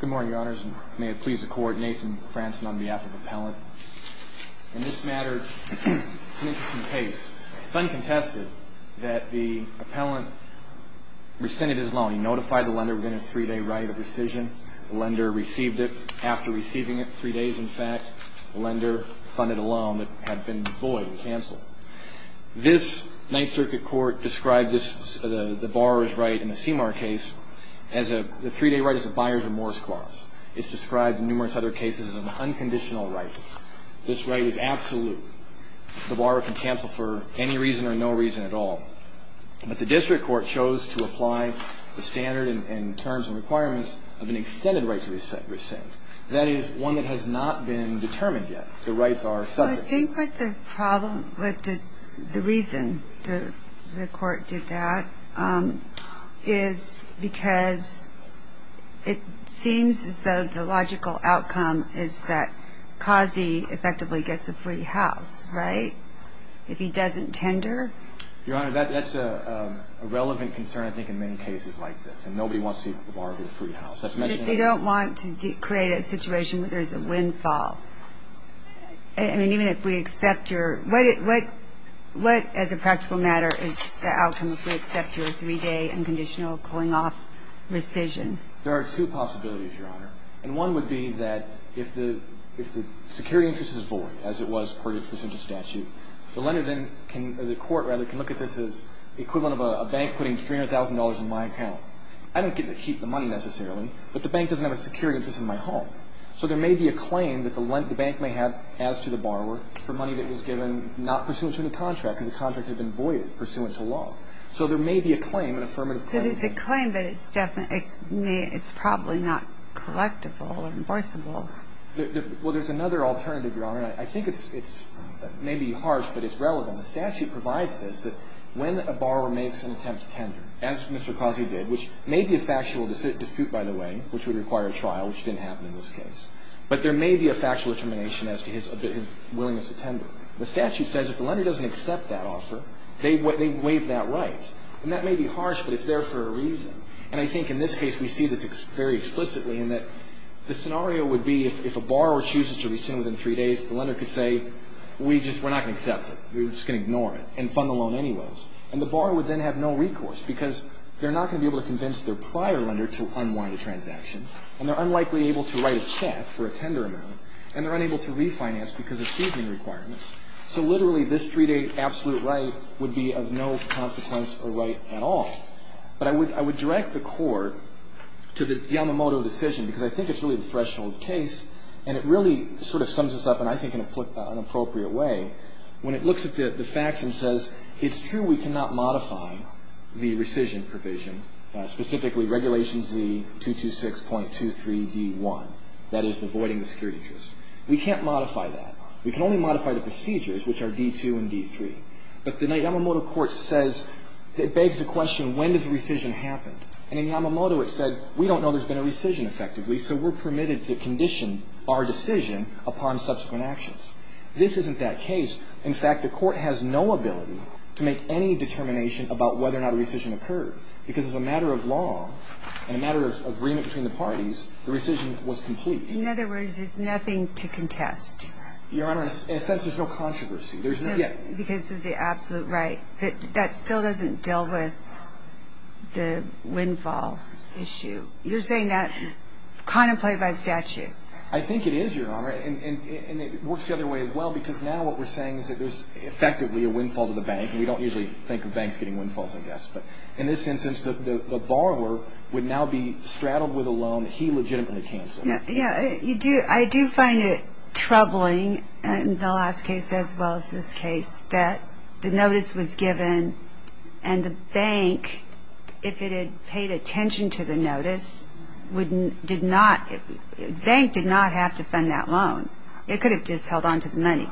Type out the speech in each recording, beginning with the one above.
Good morning, Your Honors, and may it please the Court, Nathan Franzen on behalf of Appellant. In this matter, it's an interesting case. Fund contested that the Appellant rescinded his loan. He notified the lender within his three-day right of rescission. The lender received it. After receiving it, three days, in fact, the lender funded a loan that had been void, canceled. This Ninth Circuit Court described the borrower's right in the CMAR case as a three-day right as a buyer's remorse clause. It's described in numerous other cases as an unconditional right. This right is absolute. The borrower can cancel for any reason or no reason at all. But the district court chose to apply the standard and terms and requirements of an extended right to rescind. That is one that has not been determined yet. The rights are subject. Well, I think that the reason the court did that is because it seems as though the logical outcome is that Kazi effectively gets a free house, right, if he doesn't tender? Your Honor, that's a relevant concern, I think, in many cases like this, and nobody wants to borrow a free house. They don't want to create a situation where there's a windfall. I mean, even if we accept your ñ what, as a practical matter, is the outcome if we accept your three-day unconditional cooling-off rescission? There are two possibilities, Your Honor. And one would be that if the security interest is void, as it was per the statute, the lender then can ñ or the court, rather, can look at this as equivalent of a bank putting $300,000 in my account. I don't get to keep the money necessarily, but the bank doesn't have a security interest in my home. So there may be a claim that the bank may have as to the borrower for money that was given not pursuant to the contract, because the contract had been voided pursuant to law. So there may be a claim, an affirmative claim. So there's a claim that it's definitely ñ it's probably not collectible or reimbursable. Well, there's another alternative, Your Honor. I think it's ñ it may be harsh, but it's relevant. The statute provides this, that when a borrower makes an attempt to tender, as Mr. Kazi did, which may be a factual dispute, by the way, which would require a trial, which didn't happen in this case. But there may be a factual determination as to his willingness to tender. The statute says if the lender doesn't accept that offer, they waive that right. And that may be harsh, but it's there for a reason. And I think in this case we see this very explicitly, in that the scenario would be if a borrower chooses to rescind within three days, the lender could say, we just ñ we're not going to accept it. We're just going to ignore it and fund the loan anyways. And the borrower would then have no recourse, because they're not going to be able to convince their prior lender to unwind a transaction. And they're unlikely able to write a check for a tender amount. And they're unable to refinance because of seasoning requirements. So literally this three-day absolute right would be of no consequence or right at all. But I would direct the court to the Yamamoto decision, because I think it's really the threshold case. And it really sort of sums this up, and I think in an appropriate way, when it looks at the facts and says, it's true we cannot modify the rescission provision, specifically Regulation Z226.23d1, that is the voiding the security interest. We can't modify that. We can only modify the procedures, which are d2 and d3. But the Yamamoto court says ñ it begs the question, when does rescission happen? And in Yamamoto it said, we don't know there's been a rescission effectively, so we're permitted to condition our decision upon subsequent actions. This isn't that case. In fact, the court has no ability to make any determination about whether or not a rescission occurred, because as a matter of law and a matter of agreement between the parties, the rescission was complete. In other words, there's nothing to contest. Your Honor, in a sense there's no controversy. Because of the absolute right. That still doesn't deal with the windfall issue. You're saying that contemplated by the statute. I think it is, Your Honor. And it works the other way as well. Because now what we're saying is that there's effectively a windfall to the bank. And we don't usually think of banks getting windfalls like this. But in this instance, the borrower would now be straddled with a loan that he legitimately canceled. Yeah. I do find it troubling in the last case as well as this case that the notice was given and the bank, if it had paid attention to the notice, did not, the bank did not have to fund that loan. It could have just held on to the money.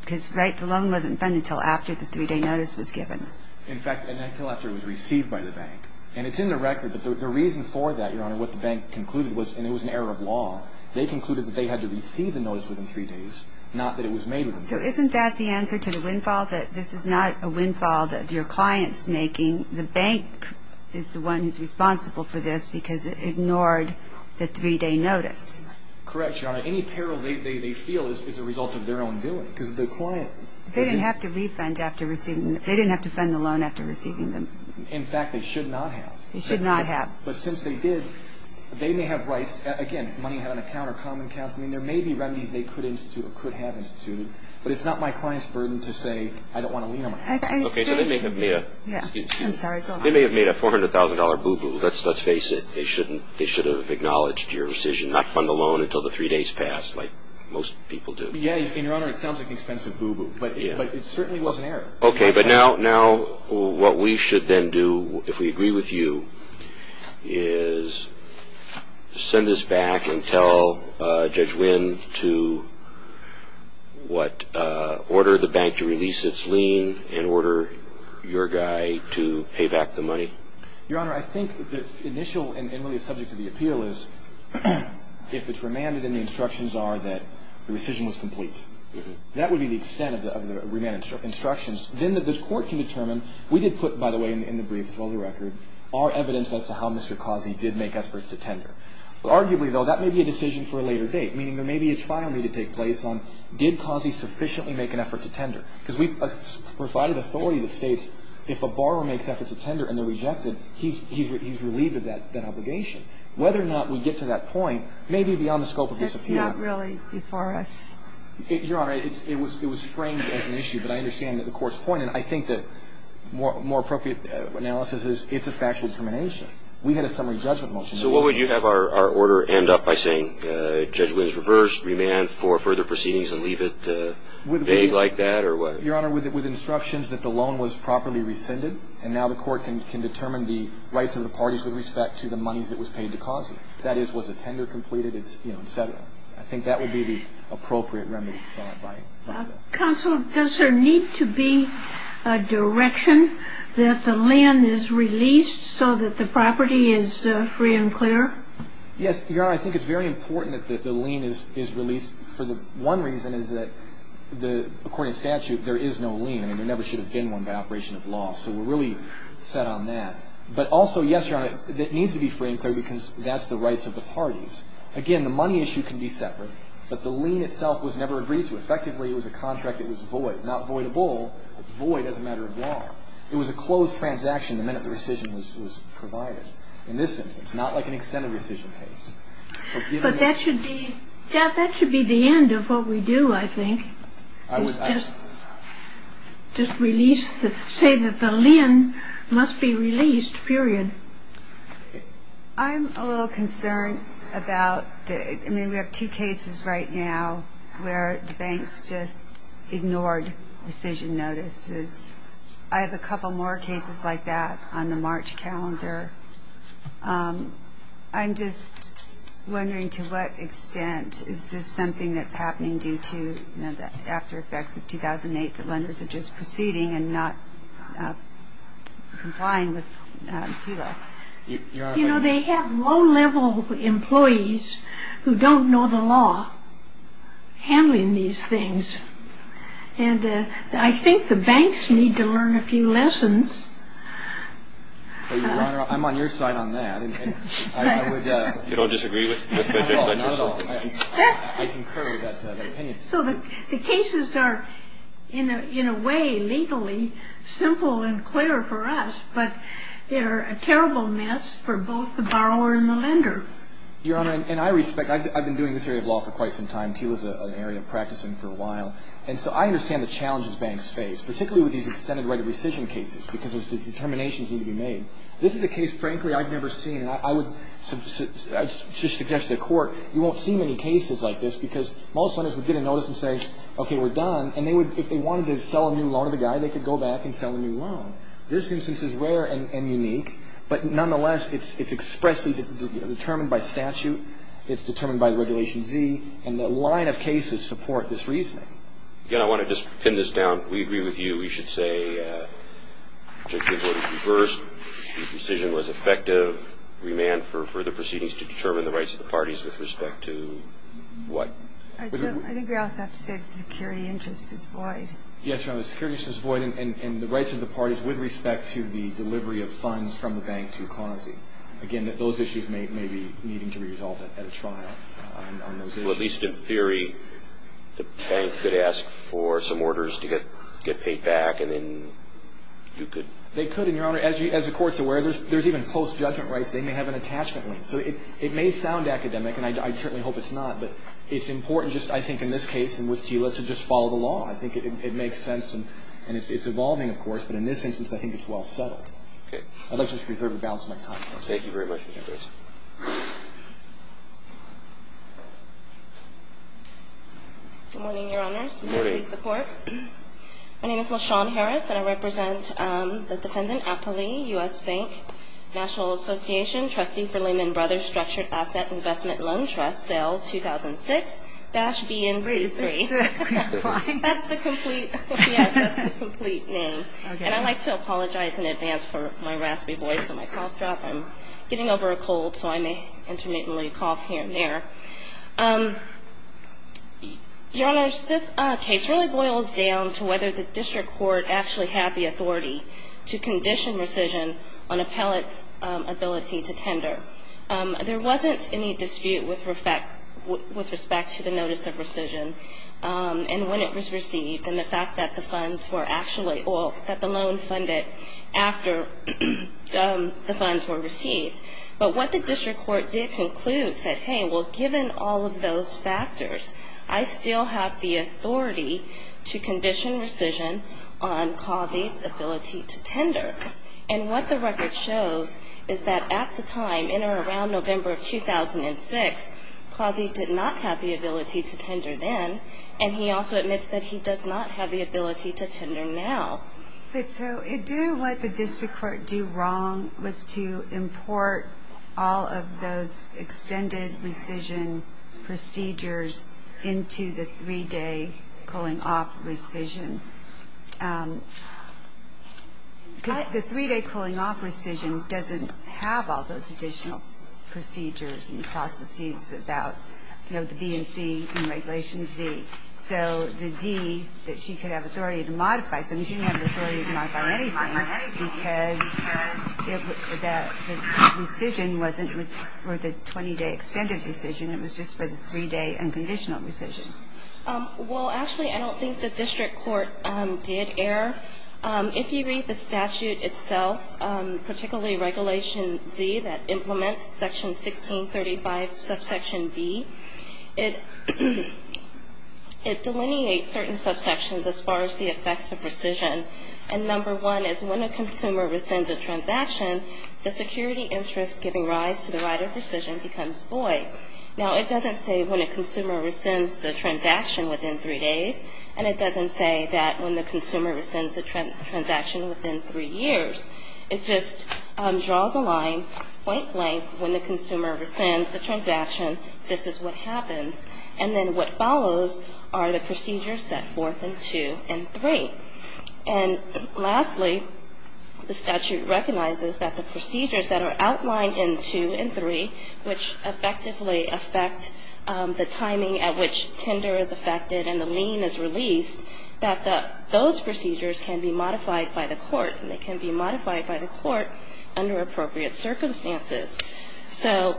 Because the loan wasn't funded until after the three-day notice was given. In fact, until after it was received by the bank. And it's in the record. But the reason for that, Your Honor, what the bank concluded was, and it was an error of law, they concluded that they had to receive the notice within three days, not that it was made within three days. So isn't that the answer to the windfall, that this is not a windfall that your client's making? The bank is the one who's responsible for this because it ignored the three-day notice. Correct, Your Honor. Any peril they feel is a result of their own doing. Because the client... They didn't have to refund after receiving, they didn't have to fund the loan after receiving them. In fact, they should not have. They should not have. But since they did, they may have rights. Again, money had an account or common accounts. I mean, there may be remedies they could have instituted. But it's not my client's burden to say, I don't want to lien on my client. Okay, so they may have made a $400,000 boo-boo. Let's face it. They should have acknowledged your decision not to fund the loan until the three days passed, like most people do. Yeah, Your Honor, it sounds like an expensive boo-boo. But it certainly was an error. Okay, but now what we should then do, if we agree with you, is send this back and tell Judge Winn to order the bank to release its lien and order your guy to pay back the money. Your Honor, I think the initial, and really subject to the appeal, is if it's remanded and the instructions are that the rescission was complete. That would be the extent of the remand instructions. Then the court can determine, we did put, by the way, in the brief, to hold the record, our evidence as to how Mr. Causey did make efforts to tender. Arguably, though, that may be a decision for a later date, meaning there may be a trial need to take place on, did Causey sufficiently make an effort to tender? Because we provided authority that states if a borrower makes efforts to tender and they're rejected, he's relieved of that obligation. Whether or not we get to that point may be beyond the scope of this appeal. It's not really before us. Your Honor, it was framed as an issue, but I understand that the Court's point, and I think that more appropriate analysis is it's a factual determination. We had a summary judgment motion. So what would you have our order end up by saying, Judge Winn's reversed, remand for further proceedings and leave it vague like that, or what? Your Honor, with instructions that the loan was properly rescinded, and now the Court can determine the rights of the parties with respect to the monies that was paid to Causey. That is, was a tender completed? I think that would be the appropriate remedy. Counsel, does there need to be a direction that the lien is released so that the property is free and clear? Yes, Your Honor. I think it's very important that the lien is released. One reason is that, according to statute, there is no lien. There never should have been one by operation of law. So we're really set on that. But also, yes, Your Honor, it needs to be free and clear because that's the rights of the parties. Again, the money issue can be separate, but the lien itself was never agreed to. Effectively, it was a contract that was void, not voidable, but void as a matter of law. It was a closed transaction the minute the rescission was provided. In this instance, it's not like an extended rescission case. But that should be the end of what we do, I think. I would just release the lien must be released, period. I'm a little concerned about the we have two cases right now where the banks just ignored rescission notices. I have a couple more cases like that on the March calendar. I'm just wondering to what extent is this something that's happening due to the aftereffects of 2008, that lenders are just proceeding and not complying with CILA? You know, they have low-level employees who don't know the law handling these things. And I think the banks need to learn a few lessons. Your Honor, I'm on your side on that. You don't disagree with me? Not at all. I concur with that opinion. So the cases are, in a way, legally simple and clear for us, but they're a terrible mess for both the borrower and the lender. Your Honor, and I respect, I've been doing this area of law for quite some time. TILA's an area of practicing for a while. And so I understand the challenges banks face, particularly with these extended right of rescission cases, because the determinations need to be made. This is a case, frankly, I've never seen. And I would suggest to the Court, you won't see many cases like this, because most lenders would get a notice and say, okay, we're done. And if they wanted to sell a new loan to the guy, they could go back and sell a new loan. This instance is rare and unique. But nonetheless, it's expressly determined by statute. It's determined by Regulation Z. And the line of cases support this reasoning. Again, I want to just pin this down. We agree with you. We should say objection voted to first. The decision was effective. Remand for further proceedings to determine the rights of the parties with respect to what? I think we also have to say the security interest is void. Yes, Your Honor, the security interest is void, and the rights of the parties with respect to the delivery of funds from the bank to QASI. Again, those issues may be needing to be resolved at a trial on those issues. Well, at least in theory, the bank could ask for some orders to get paid back, and then you could? They could, and, Your Honor, as the Court's aware, there's even post-judgment rights. They may have an attachment right. So it may sound academic, and I certainly hope it's not, but it's important just, I think, in this case and with Kila, to just follow the law. I think it makes sense, and it's evolving, of course. But in this instance, I think it's well settled. Okay. I'd like to just reserve the balance of my time. Thank you very much, Mr. Grayson. Good morning, Your Honors. Good morning. Please, the Court. My name is LaShawn Harris, and I represent the Defendant Apoli, U.S. Bank, National Association, Trustee for Lehman Brothers Structured Asset Investment Loan Trust, sale 2006-BNC3. Wait, is this the complete line? That's the complete, yes, that's the complete name. Okay. I'd like to apologize in advance for my raspy voice and my cough drop. I'm getting over a cold, so I may intermittently cough here and there. Your Honors, this case really boils down to whether the district court actually had the authority to condition rescission on appellate's ability to tender. There wasn't any dispute with respect to the notice of rescission and when it was received and the fact that the funds were actually, or that the loan funded after the funds were received. But what the district court did conclude said, hey, well, given all of those factors, I still have the authority to condition rescission on Causey's ability to tender. And what the record shows is that at the time, in or around November of 2006, Causey did not have the ability to tender then, and he also admits that he does not have the ability to tender now. So did what the district court do wrong was to import all of those extended rescission procedures into the three-day cooling-off rescission? Because the three-day cooling-off rescission doesn't have all those additional procedures and processes about, you know, the B and C and Regulation Z. So the D, that she could have authority to modify something, she didn't have authority to modify anything because the rescission wasn't for the 20-day extended rescission. It was just for the three-day unconditional rescission. Well, actually, I don't think the district court did error. If you read the statute itself, particularly Regulation Z that implements Section 1635 subsection B, it delineates certain subsections as far as the effects of rescission. And number one is when a consumer rescinds a transaction, the security interest giving rise to the right of rescission becomes void. Now, it doesn't say when a consumer rescinds the transaction within three days, and it doesn't say that when the consumer rescinds the transaction within three years. It just draws a line, point blank, when the consumer rescinds the transaction, this is what happens. And then what follows are the procedures set forth in two and three. And lastly, the statute recognizes that the procedures that are outlined in two and three, which effectively affect the timing at which tender is affected and the lien is released, that those procedures can be modified by the court, and they can be modified by the court under appropriate circumstances. So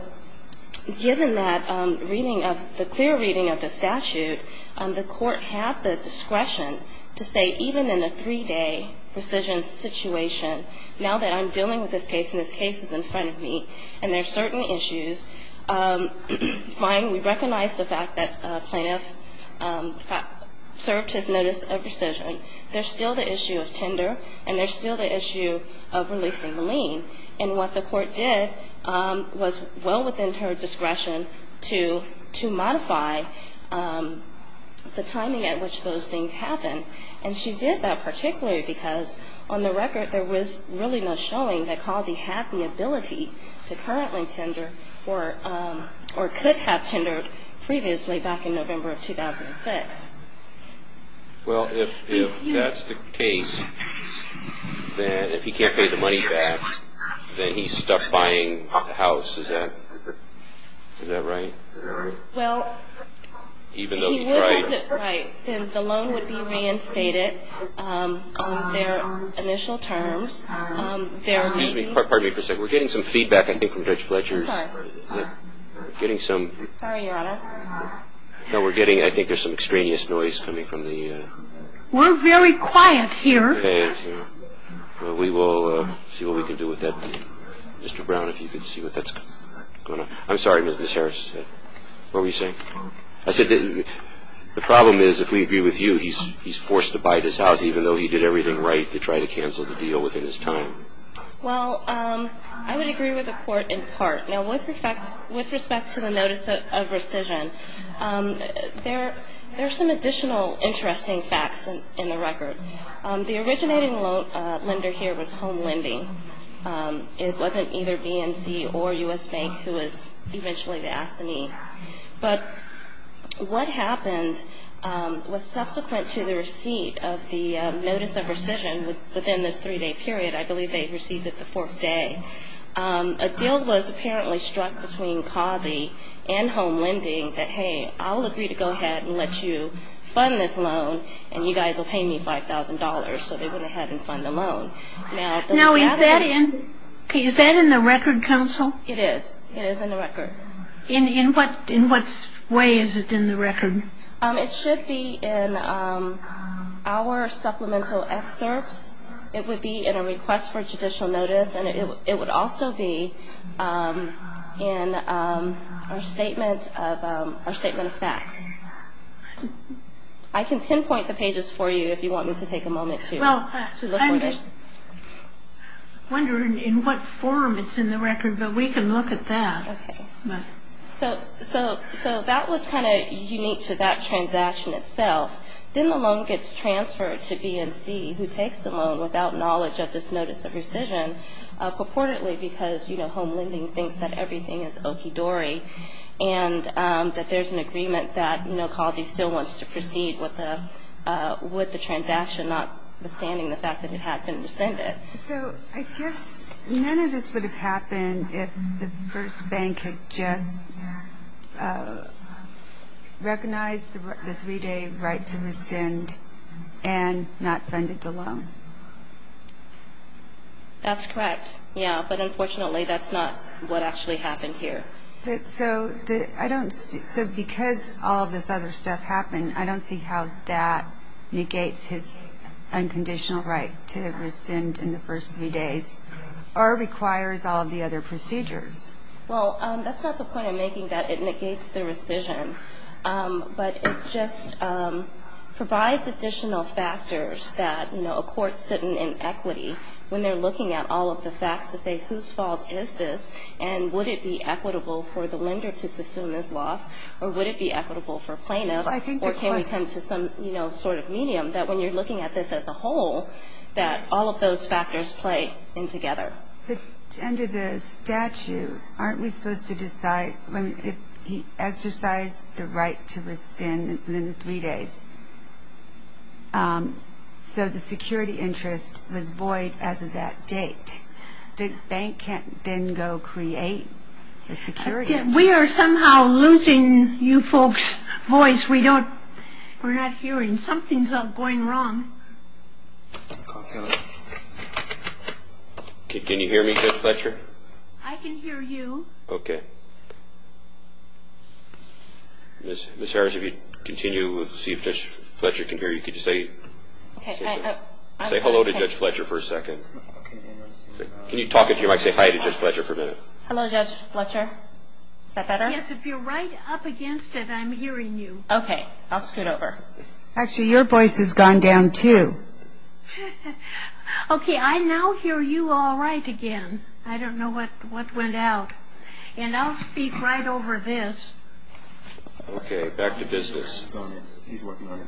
given that reading of the clear reading of the statute, the court had the discretion to say even in a three-day rescission situation, now that I'm dealing with this case and this case is in front of me, and there are certain issues, we recognize the fact that plaintiff served his notice of rescission. There's still the issue of tender, and there's still the issue of releasing the lien. And what the court did was well within her discretion to modify the timing at which those things happen. And she did that particularly because on the record, there was really no showing that Causey had the ability to currently tender or could have tendered previously back in November of 2006. Well, if that's the case, then if he can't pay the money back, then he's stuck buying the house. Is that right? Well, if he will hold it right, then the loan would be reinstated on their initial terms. Excuse me. Pardon me for a second. We're getting some feedback, I think, from Judge Fletcher. Sorry. We're getting some. Sorry, Your Honor. No, we're getting, I think there's some extraneous noise coming from the. We're very quiet here. We will see what we can do with that. Mr. Brown, if you could see what that's going on. I'm sorry, Ms. Harris. What were you saying? I said the problem is, if we agree with you, he's forced to buy this house, even though he did everything right to try to cancel the deal within his time. Well, I would agree with the court in part. Now, with respect to the notice of rescission, there are some additional interesting facts in the record. The originating lender here was Home Lending. It wasn't either BNC or U.S. Bank who was eventually to ask the need. But what happened was subsequent to the receipt of the notice of rescission, within this three-day period, I believe they received it the fourth day, a deal was apparently struck between CAUSE and Home Lending that, hey, I'll agree to go ahead and let you fund this loan, and you guys will pay me $5,000, so they went ahead and fund the loan. Now, is that in the record, counsel? It is. It is in the record. In what way is it in the record? It should be in our supplemental excerpts. It would be in a request for judicial notice, and it would also be in our statement of facts. I can pinpoint the pages for you if you want me to take a moment to look at it. Well, I'm just wondering in what form it's in the record, but we can look at that. Okay. So that was kind of unique to that transaction itself. Then the loan gets transferred to BNC, who takes the loan without knowledge of this notice of rescission, purportedly because, you know, Home Lending thinks that everything is okidori and that there's an agreement that, you know, CAUSEE still wants to proceed with the transaction, notwithstanding the fact that it had been rescinded. So I guess none of this would have happened if the first bank had just recognized the 3-day right to rescind and not funded the loan. That's correct, yeah. But unfortunately, that's not what actually happened here. So because all of this other stuff happened, I don't see how that negates his unconditional right to rescind in the first 3 days or requires all of the other procedures. Well, that's not the point I'm making, that it negates the rescission, but it just provides additional factors that, you know, a court's sitting in equity when they're looking at all of the facts to say whose fault is this and would it be equitable for the lender to sussume this loss or would it be equitable for plaintiffs or can we come to some, you know, sort of medium that when you're looking at this as a whole, that all of those factors play in together. But under the statute, aren't we supposed to decide when he exercised the right to rescind within 3 days? So the security interest was void as of that date. The bank can't then go create the security interest. We are somehow losing you folks' voice. We're not hearing. Something's going wrong. Can you hear me, Judge Fletcher? I can hear you. Okay. Ms. Harris, if you'd continue, see if Judge Fletcher can hear you. Could you say hello to Judge Fletcher for a second? Can you talk into your mic, say hi to Judge Fletcher for a minute? Hello, Judge Fletcher. Is that better? Yes, if you're right up against it, I'm hearing you. Okay. I'll scoot over. Actually, your voice has gone down, too. Okay, I now hear you all right again. I don't know what went out. And I'll speak right over this. Okay, back to business. He's working on it.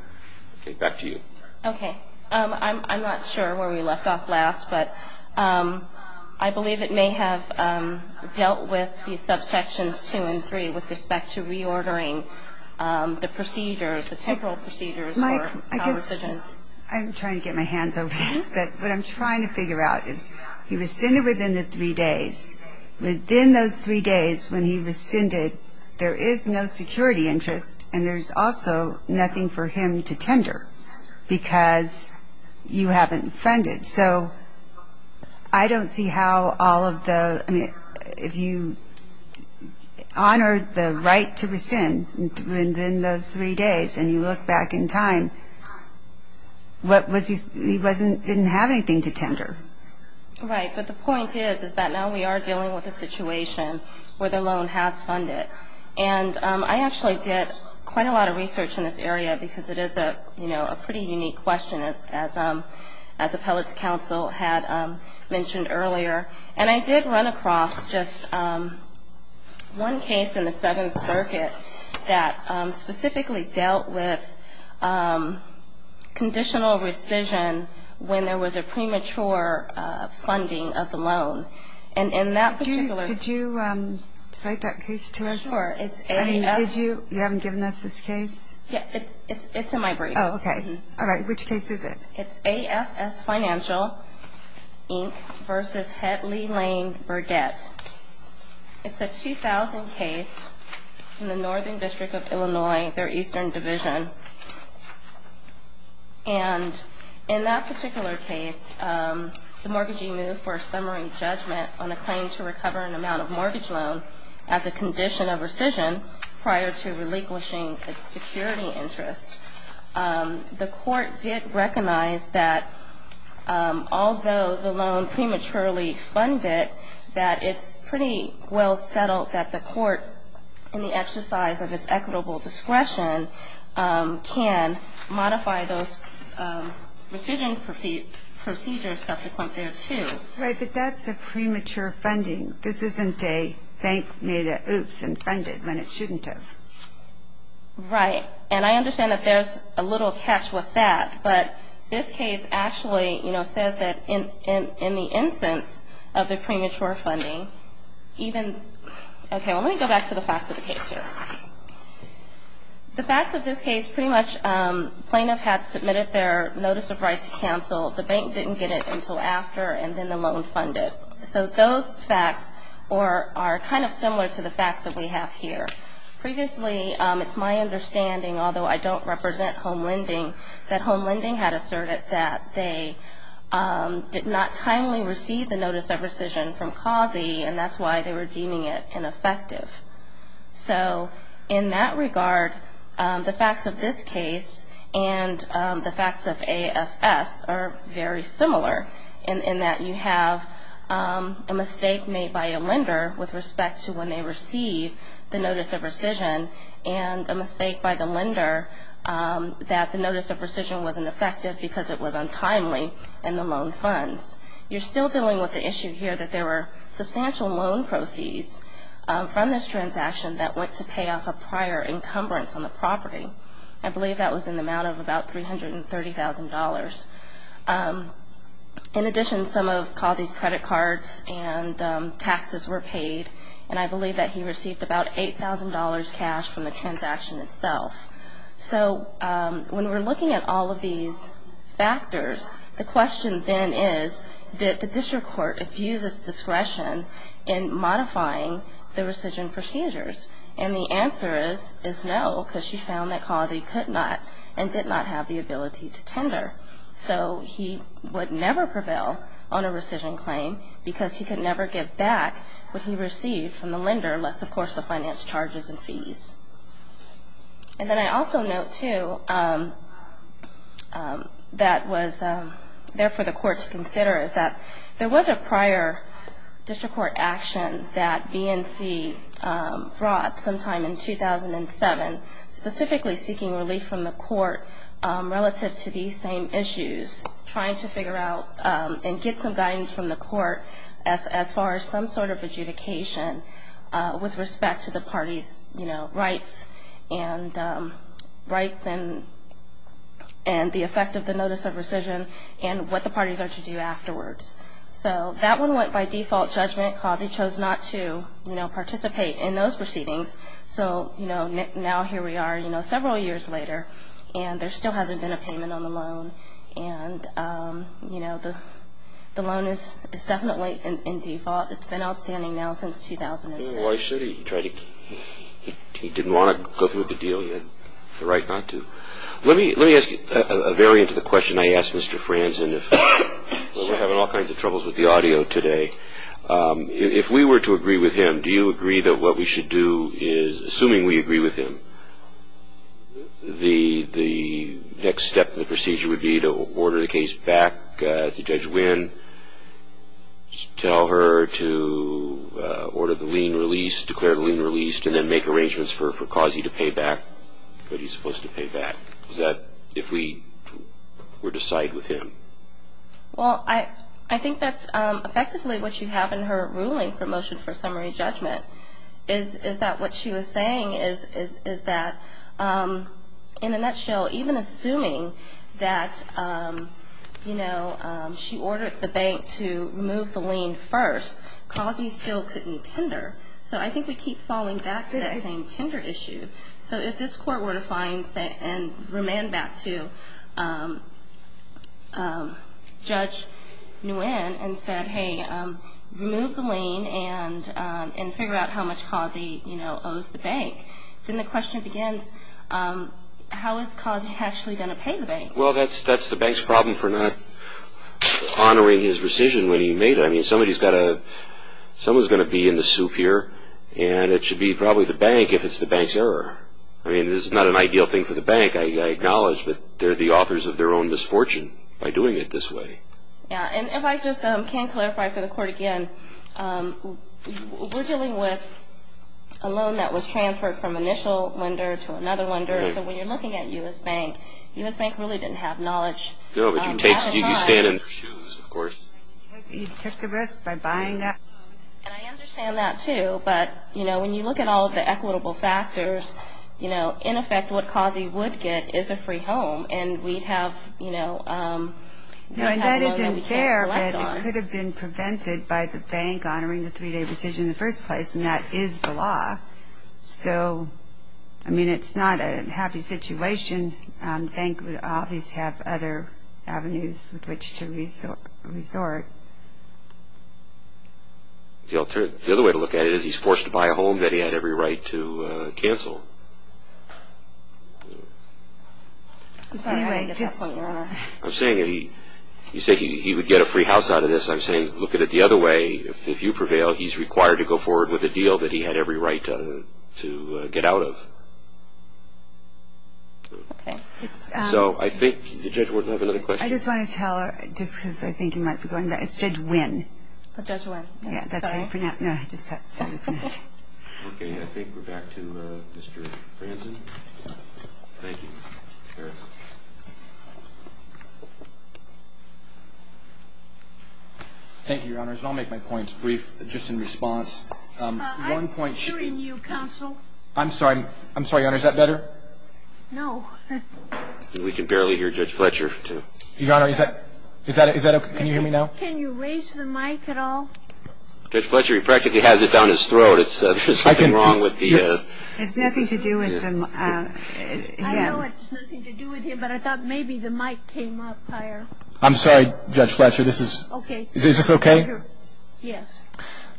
Okay, back to you. Okay. I'm not sure where we left off last, but I believe it may have dealt with the subsections 2 and 3 with respect to reordering the procedures, the temporal procedures for our decision. Mike, I guess I'm trying to get my hands over this, but what I'm trying to figure out is he rescinded within the 3 days. Within those 3 days when he rescinded, there is no security interest, and there's also nothing for him to tender because you haven't funded. So I don't see how all of the ñ I mean, if you honor the right to rescind within those 3 days and you look back in time, he didn't have anything to tender. Right, but the point is that now we are dealing with a situation where the loan has funded. And I actually did quite a lot of research in this area because it is a pretty unique question, as appellate counsel had mentioned earlier. And I did run across just one case in the Seventh Circuit that specifically dealt with conditional rescission when there was a premature funding of the loan. And in that particular ñ Could you cite that case to us? Sure. I mean, did you ñ you haven't given us this case? Yeah, it's in my brief. Oh, okay. All right, which case is it? It's AFS Financial Inc. v. Headley Lane Burdette. It's a 2000 case in the Northern District of Illinois, their Eastern Division. And in that particular case, the mortgagee moved for a summary judgment on a claim to recover an amount of mortgage loan as a condition of rescission prior to relinquishing its security interest. The court did recognize that although the loan prematurely funded, that it's pretty well settled that the court, in the exercise of its equitable discretion, can modify those rescission procedures subsequent thereto. Right, but that's a premature funding. This isn't a bank made an oops and funded when it shouldn't have. Right. And I understand that there's a little catch with that, but this case actually, you know, says that in the instance of the premature funding, even ñ okay, well, let me go back to the facts of the case here. The facts of this case pretty much plaintiff had submitted their notice of right to cancel. The bank didn't get it until after, and then the loan funded. So those facts are kind of similar to the facts that we have here. Previously, it's my understanding, although I don't represent home lending, that home lending had asserted that they did not timely receive the notice of rescission from CAUSE, and that's why they were deeming it ineffective. So in that regard, the facts of this case and the facts of AFS are very similar, in that you have a mistake made by a lender with respect to when they receive the notice of rescission, and a mistake by the lender that the notice of rescission wasn't effective because it was untimely in the loan funds. You're still dealing with the issue here that there were substantial loan proceeds from this transaction that went to pay off a prior encumbrance on the property. I believe that was in the amount of about $330,000. In addition, some of CAUSE's credit cards and taxes were paid, and I believe that he received about $8,000 cash from the transaction itself. So when we're looking at all of these factors, the question then is, did the district court abuse its discretion in modifying the rescission procedures? And the answer is no, because she found that CAUSE could not and did not have the ability to tender. So he would never prevail on a rescission claim because he could never give back what he received from the lender, unless, of course, the finance charges and fees. And then I also note, too, that was there for the court to consider, is that there was a prior district court action that BNC brought sometime in 2007, specifically seeking relief from the court relative to these same issues, trying to figure out and get some guidance from the court as far as some sort of adjudication with respect to the party's rights and the effect of the notice of rescission and what the parties are to do afterwards. So that one went by default judgment. CAUSE chose not to participate in those proceedings. So now here we are several years later, and there still hasn't been a payment on the loan. And the loan is definitely in default. It's been outstanding now since 2007. Oh, I see. He didn't want to go through with the deal. He had the right not to. Let me ask a variant of the question I asked Mr. Franzen. We're having all kinds of troubles with the audio today. If we were to agree with him, do you agree that what we should do is, assuming we agree with him, the next step in the procedure would be to order the case back to Judge Wynn, tell her to order the lien released, declare the lien released, and then make arrangements for Causey to pay back what he's supposed to pay back? Is that if we were to side with him? Well, I think that's effectively what you have in her ruling for motion for summary judgment, is that what she was saying is that, in a nutshell, even assuming that she ordered the bank to remove the lien first, Causey still couldn't tender. So I think we keep falling back to that same tender issue. So if this Court were to find and remand back to Judge Nguyen and said, Hey, remove the lien and figure out how much Causey owes the bank, then the question begins, how is Causey actually going to pay the bank? Well, that's the bank's problem for not honoring his decision when he made it. I mean, somebody's got to – someone's going to be in the soup here, and it should be probably the bank if it's the bank's error. I mean, this is not an ideal thing for the bank. I acknowledge that they're the authors of their own misfortune by doing it this way. Yeah, and if I just can clarify for the Court again, we're dealing with a loan that was transferred from initial lender to another lender. So when you're looking at U.S. Bank, U.S. Bank really didn't have knowledge. No, but you stand in their shoes, of course. He took the risk by buying that loan. And I understand that, too. But, you know, when you look at all of the equitable factors, you know, in effect what Causey would get is a free home. And we'd have, you know – And that isn't fair. It could have been prevented by the bank honoring the three-day decision in the first place, and that is the law. So, I mean, it's not a happy situation. The bank would obviously have other avenues with which to resort. The other way to look at it is he's forced to buy a home that he had every right to cancel. I'm sorry, I didn't get that. I'm saying he would get a free house out of this. I'm saying look at it the other way. If you prevail, he's required to go forward with a deal that he had every right to get out of. Okay. So I think the judge would have another question. I just want to tell her, just because I think he might be going back. It's Judge Wynn. Judge Wynn. Yeah, that's how you pronounce it. Okay, I think we're back to Mr. Franzen. Thank you. Fair enough. Thank you, Your Honors. I'll make my points brief, just in response. I'm hearing you, Counsel. I'm sorry, Your Honor. Is that better? No. We can barely hear Judge Fletcher, too. Your Honor, is that okay? Can you hear me now? Can you raise the mic at all? Judge Fletcher, he practically has it down his throat. There's something wrong with the... It's nothing to do with him. I know it's nothing to do with him, but I thought maybe the mic came up higher. I'm sorry, Judge Fletcher. This is... Okay. Is this okay? Yes.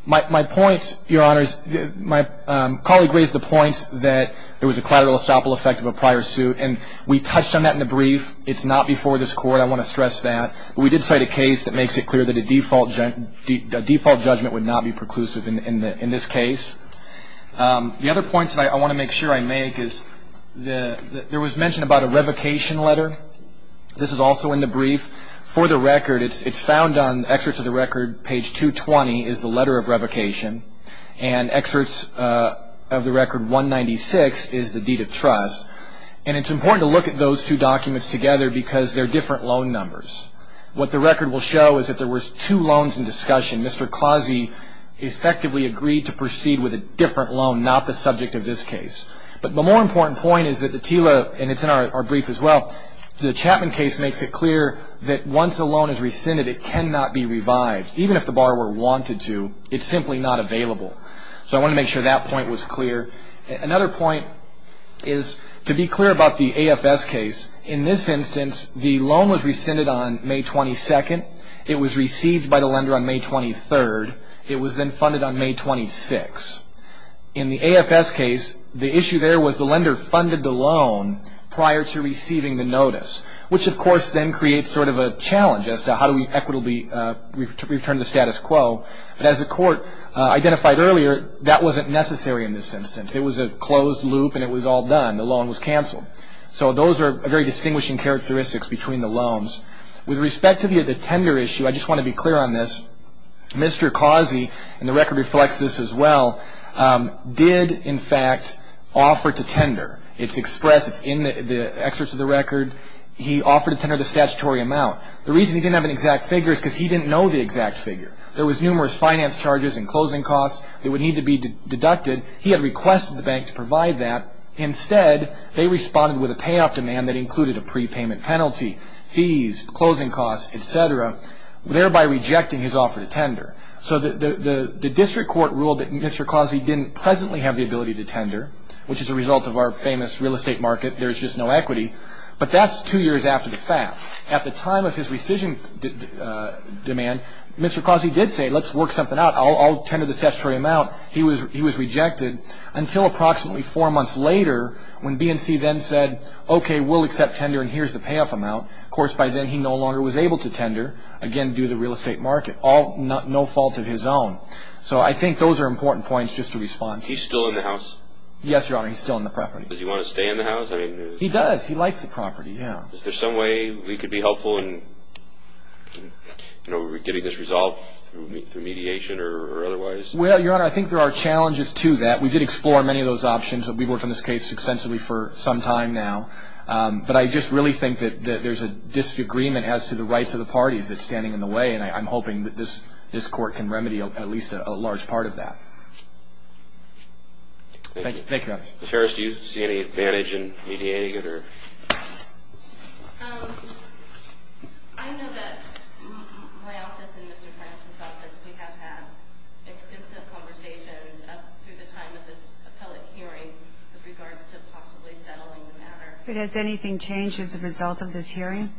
My point, Your Honors, my colleague raised the point that there was a collateral estoppel effect of a prior suit, and we touched on that in the brief. It's not before this Court. I want to stress that. We did cite a case that makes it clear that a default judgment would not be preclusive in this case. The other points that I want to make sure I make is there was mention about a revocation letter. This is also in the brief. For the record, it's found on Excerpts of the Record, page 220, is the letter of revocation, and Excerpts of the Record 196 is the deed of trust. And it's important to look at those two documents together because they're different loan numbers. What the record will show is that there was two loans in discussion. Mr. Clausey effectively agreed to proceed with a different loan, not the subject of this case. But the more important point is that the TILA, and it's in our brief as well, the Chapman case makes it clear that once a loan is rescinded, it cannot be revived. Even if the borrower wanted to, it's simply not available. So I want to make sure that point was clear. Another point is to be clear about the AFS case. In this instance, the loan was rescinded on May 22nd. It was received by the lender on May 23rd. It was then funded on May 26th. In the AFS case, the issue there was the lender funded the loan prior to receiving the notice, which, of course, then creates sort of a challenge as to how do we equitably return the status quo. But as the court identified earlier, that wasn't necessary in this instance. It was a closed loop and it was all done. The loan was canceled. So those are very distinguishing characteristics between the loans. With respect to the tender issue, I just want to be clear on this. Mr. Clausey, and the record reflects this as well, did, in fact, offer to tender. It's expressed. It's in the excerpts of the record. He offered to tender the statutory amount. The reason he didn't have an exact figure is because he didn't know the exact figure. There was numerous finance charges and closing costs that would need to be deducted. He had requested the bank to provide that. Instead, they responded with a payoff demand that included a prepayment penalty, fees, closing costs, etc., thereby rejecting his offer to tender. So the district court ruled that Mr. Clausey didn't presently have the ability to tender, which is a result of our famous real estate market, there's just no equity. But that's two years after the fact. At the time of his rescission demand, Mr. Clausey did say, let's work something out. I'll tender this statutory amount. He was rejected until approximately four months later when BNC then said, okay, we'll accept tender, and here's the payoff amount. Of course, by then he no longer was able to tender, again, due to the real estate market, no fault of his own. So I think those are important points just to respond to. Is he still in the house? Yes, Your Honor, he's still in the property. Does he want to stay in the house? He does. He likes the property, yeah. Is there some way we could be helpful in getting this resolved through mediation or otherwise? Well, Your Honor, I think there are challenges to that. We did explore many of those options. We've worked on this case extensively for some time now. But I just really think that there's a disagreement as to the rights of the parties that's standing in the way, and I'm hoping that this court can remedy at least a large part of that. Thank you. Ms. Harris, do you see any advantage in mediating it? I know that my office and Mr. Francis' office, we have had extensive conversations up through the time of this appellate hearing with regards to possibly settling the matter. Has anything changed as a result of this hearing?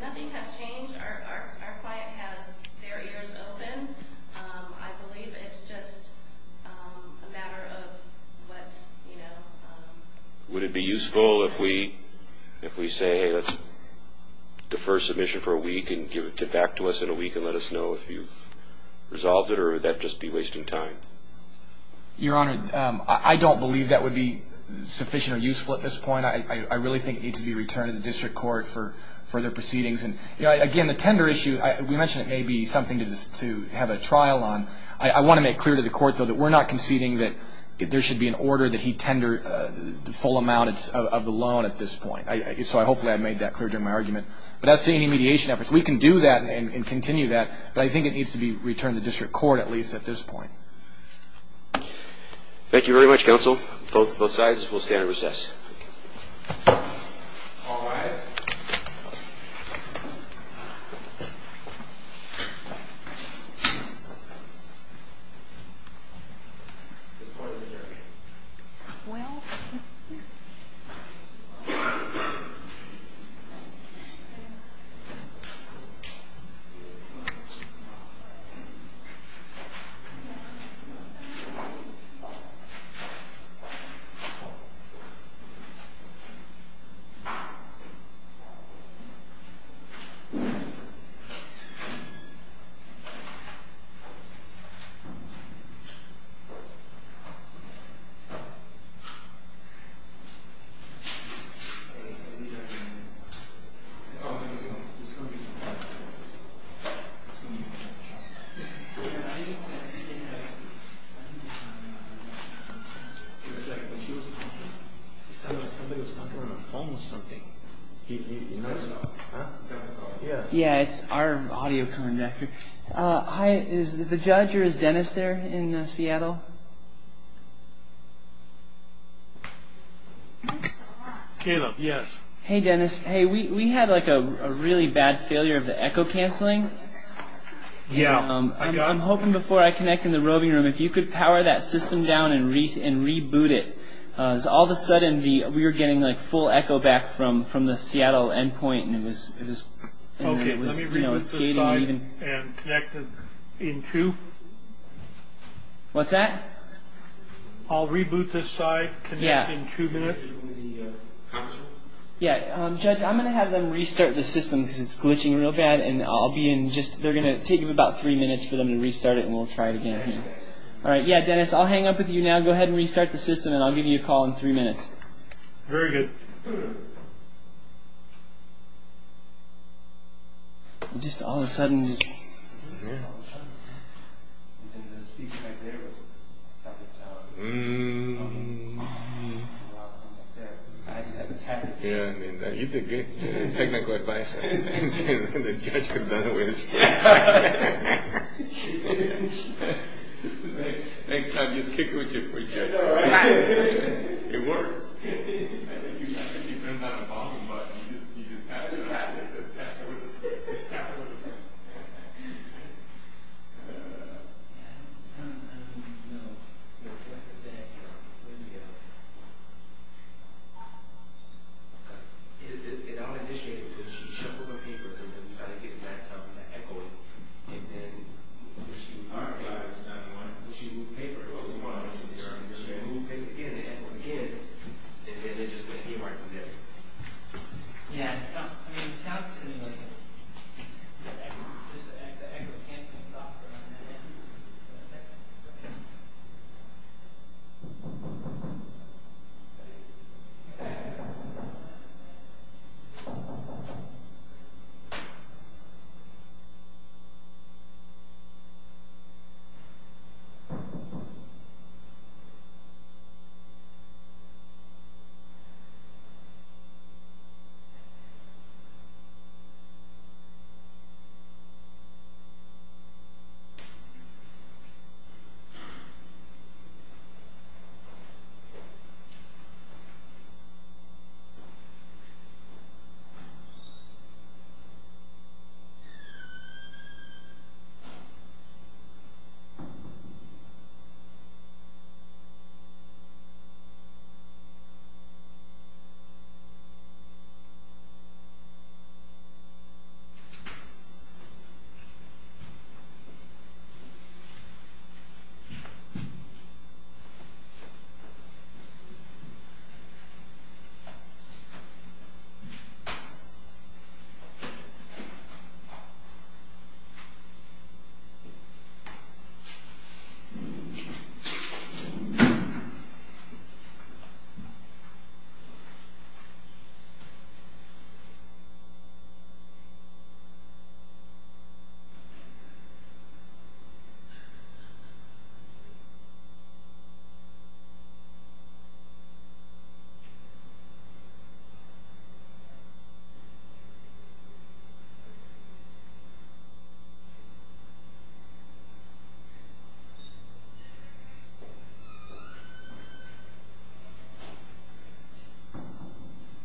Nothing has changed. Our client has their ears open. I believe it's just a matter of what, you know. Would it be useful if we say, hey, let's defer submission for a week and give it back to us in a week and let us know if you've resolved it, or would that just be wasting time? Your Honor, I don't believe that would be sufficient or useful at this point. I really think it needs to be returned to the district court for further proceedings. Again, the tender issue, we mentioned it may be something to have a trial on. I want to make clear to the court, though, that we're not conceding that there should be an order that he tender the full amount of the loan at this point. So hopefully I made that clear during my argument. But as to any mediation efforts, we can do that and continue that, but I think it needs to be returned to district court at least at this point. Thank you very much, counsel. Both sides will stand at recess. All rise. Thank you. It sounded like somebody was talking on the phone or something. Yeah, it's our audio conductor. Hi, is the judge or is Dennis there in Seattle? Caleb, yes. Hey, Dennis. Hey, we had like a really bad failure of the echo canceling. I'm hoping before I connect in the roving room if you could power that system down and reboot it because all of a sudden we were getting like full echo back from the Seattle endpoint. Okay, let me reboot this side and connect it in two. What's that? I'll reboot this side, connect in two minutes. Yeah, judge, I'm going to have them restart the system because it's glitching real bad, and they're going to take about three minutes for them to restart it, and we'll try it again. All right, yeah, Dennis, I'll hang up with you now. Go ahead and restart the system, and I'll give you a call in three minutes. Very good. Just all of a sudden. You did good. Technical advice. The judge could have done it with his foot. Next time, just kick it with your foot, judge. It worked. I think you turned on the volume button. You just tapped it. Just tapped it. I don't even know what to say. It all initiated because she shuffled some papers and then started getting back to echoing, and then when she moved paper, it was fine. Because, again, what we get is that they're just going to get right from there. Yeah, I mean, it sounds to me like it's just the echo canceling software. All right. All right.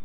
All right.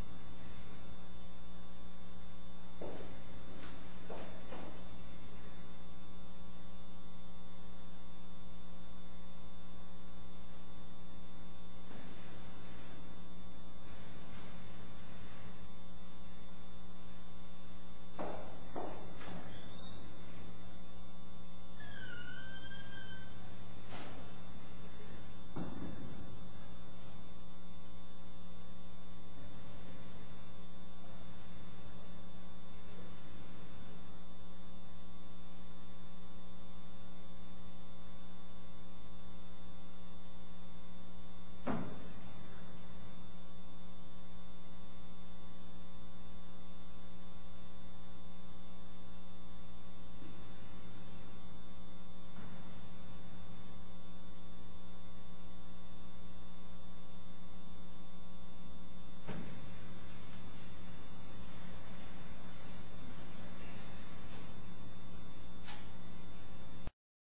All right. All right.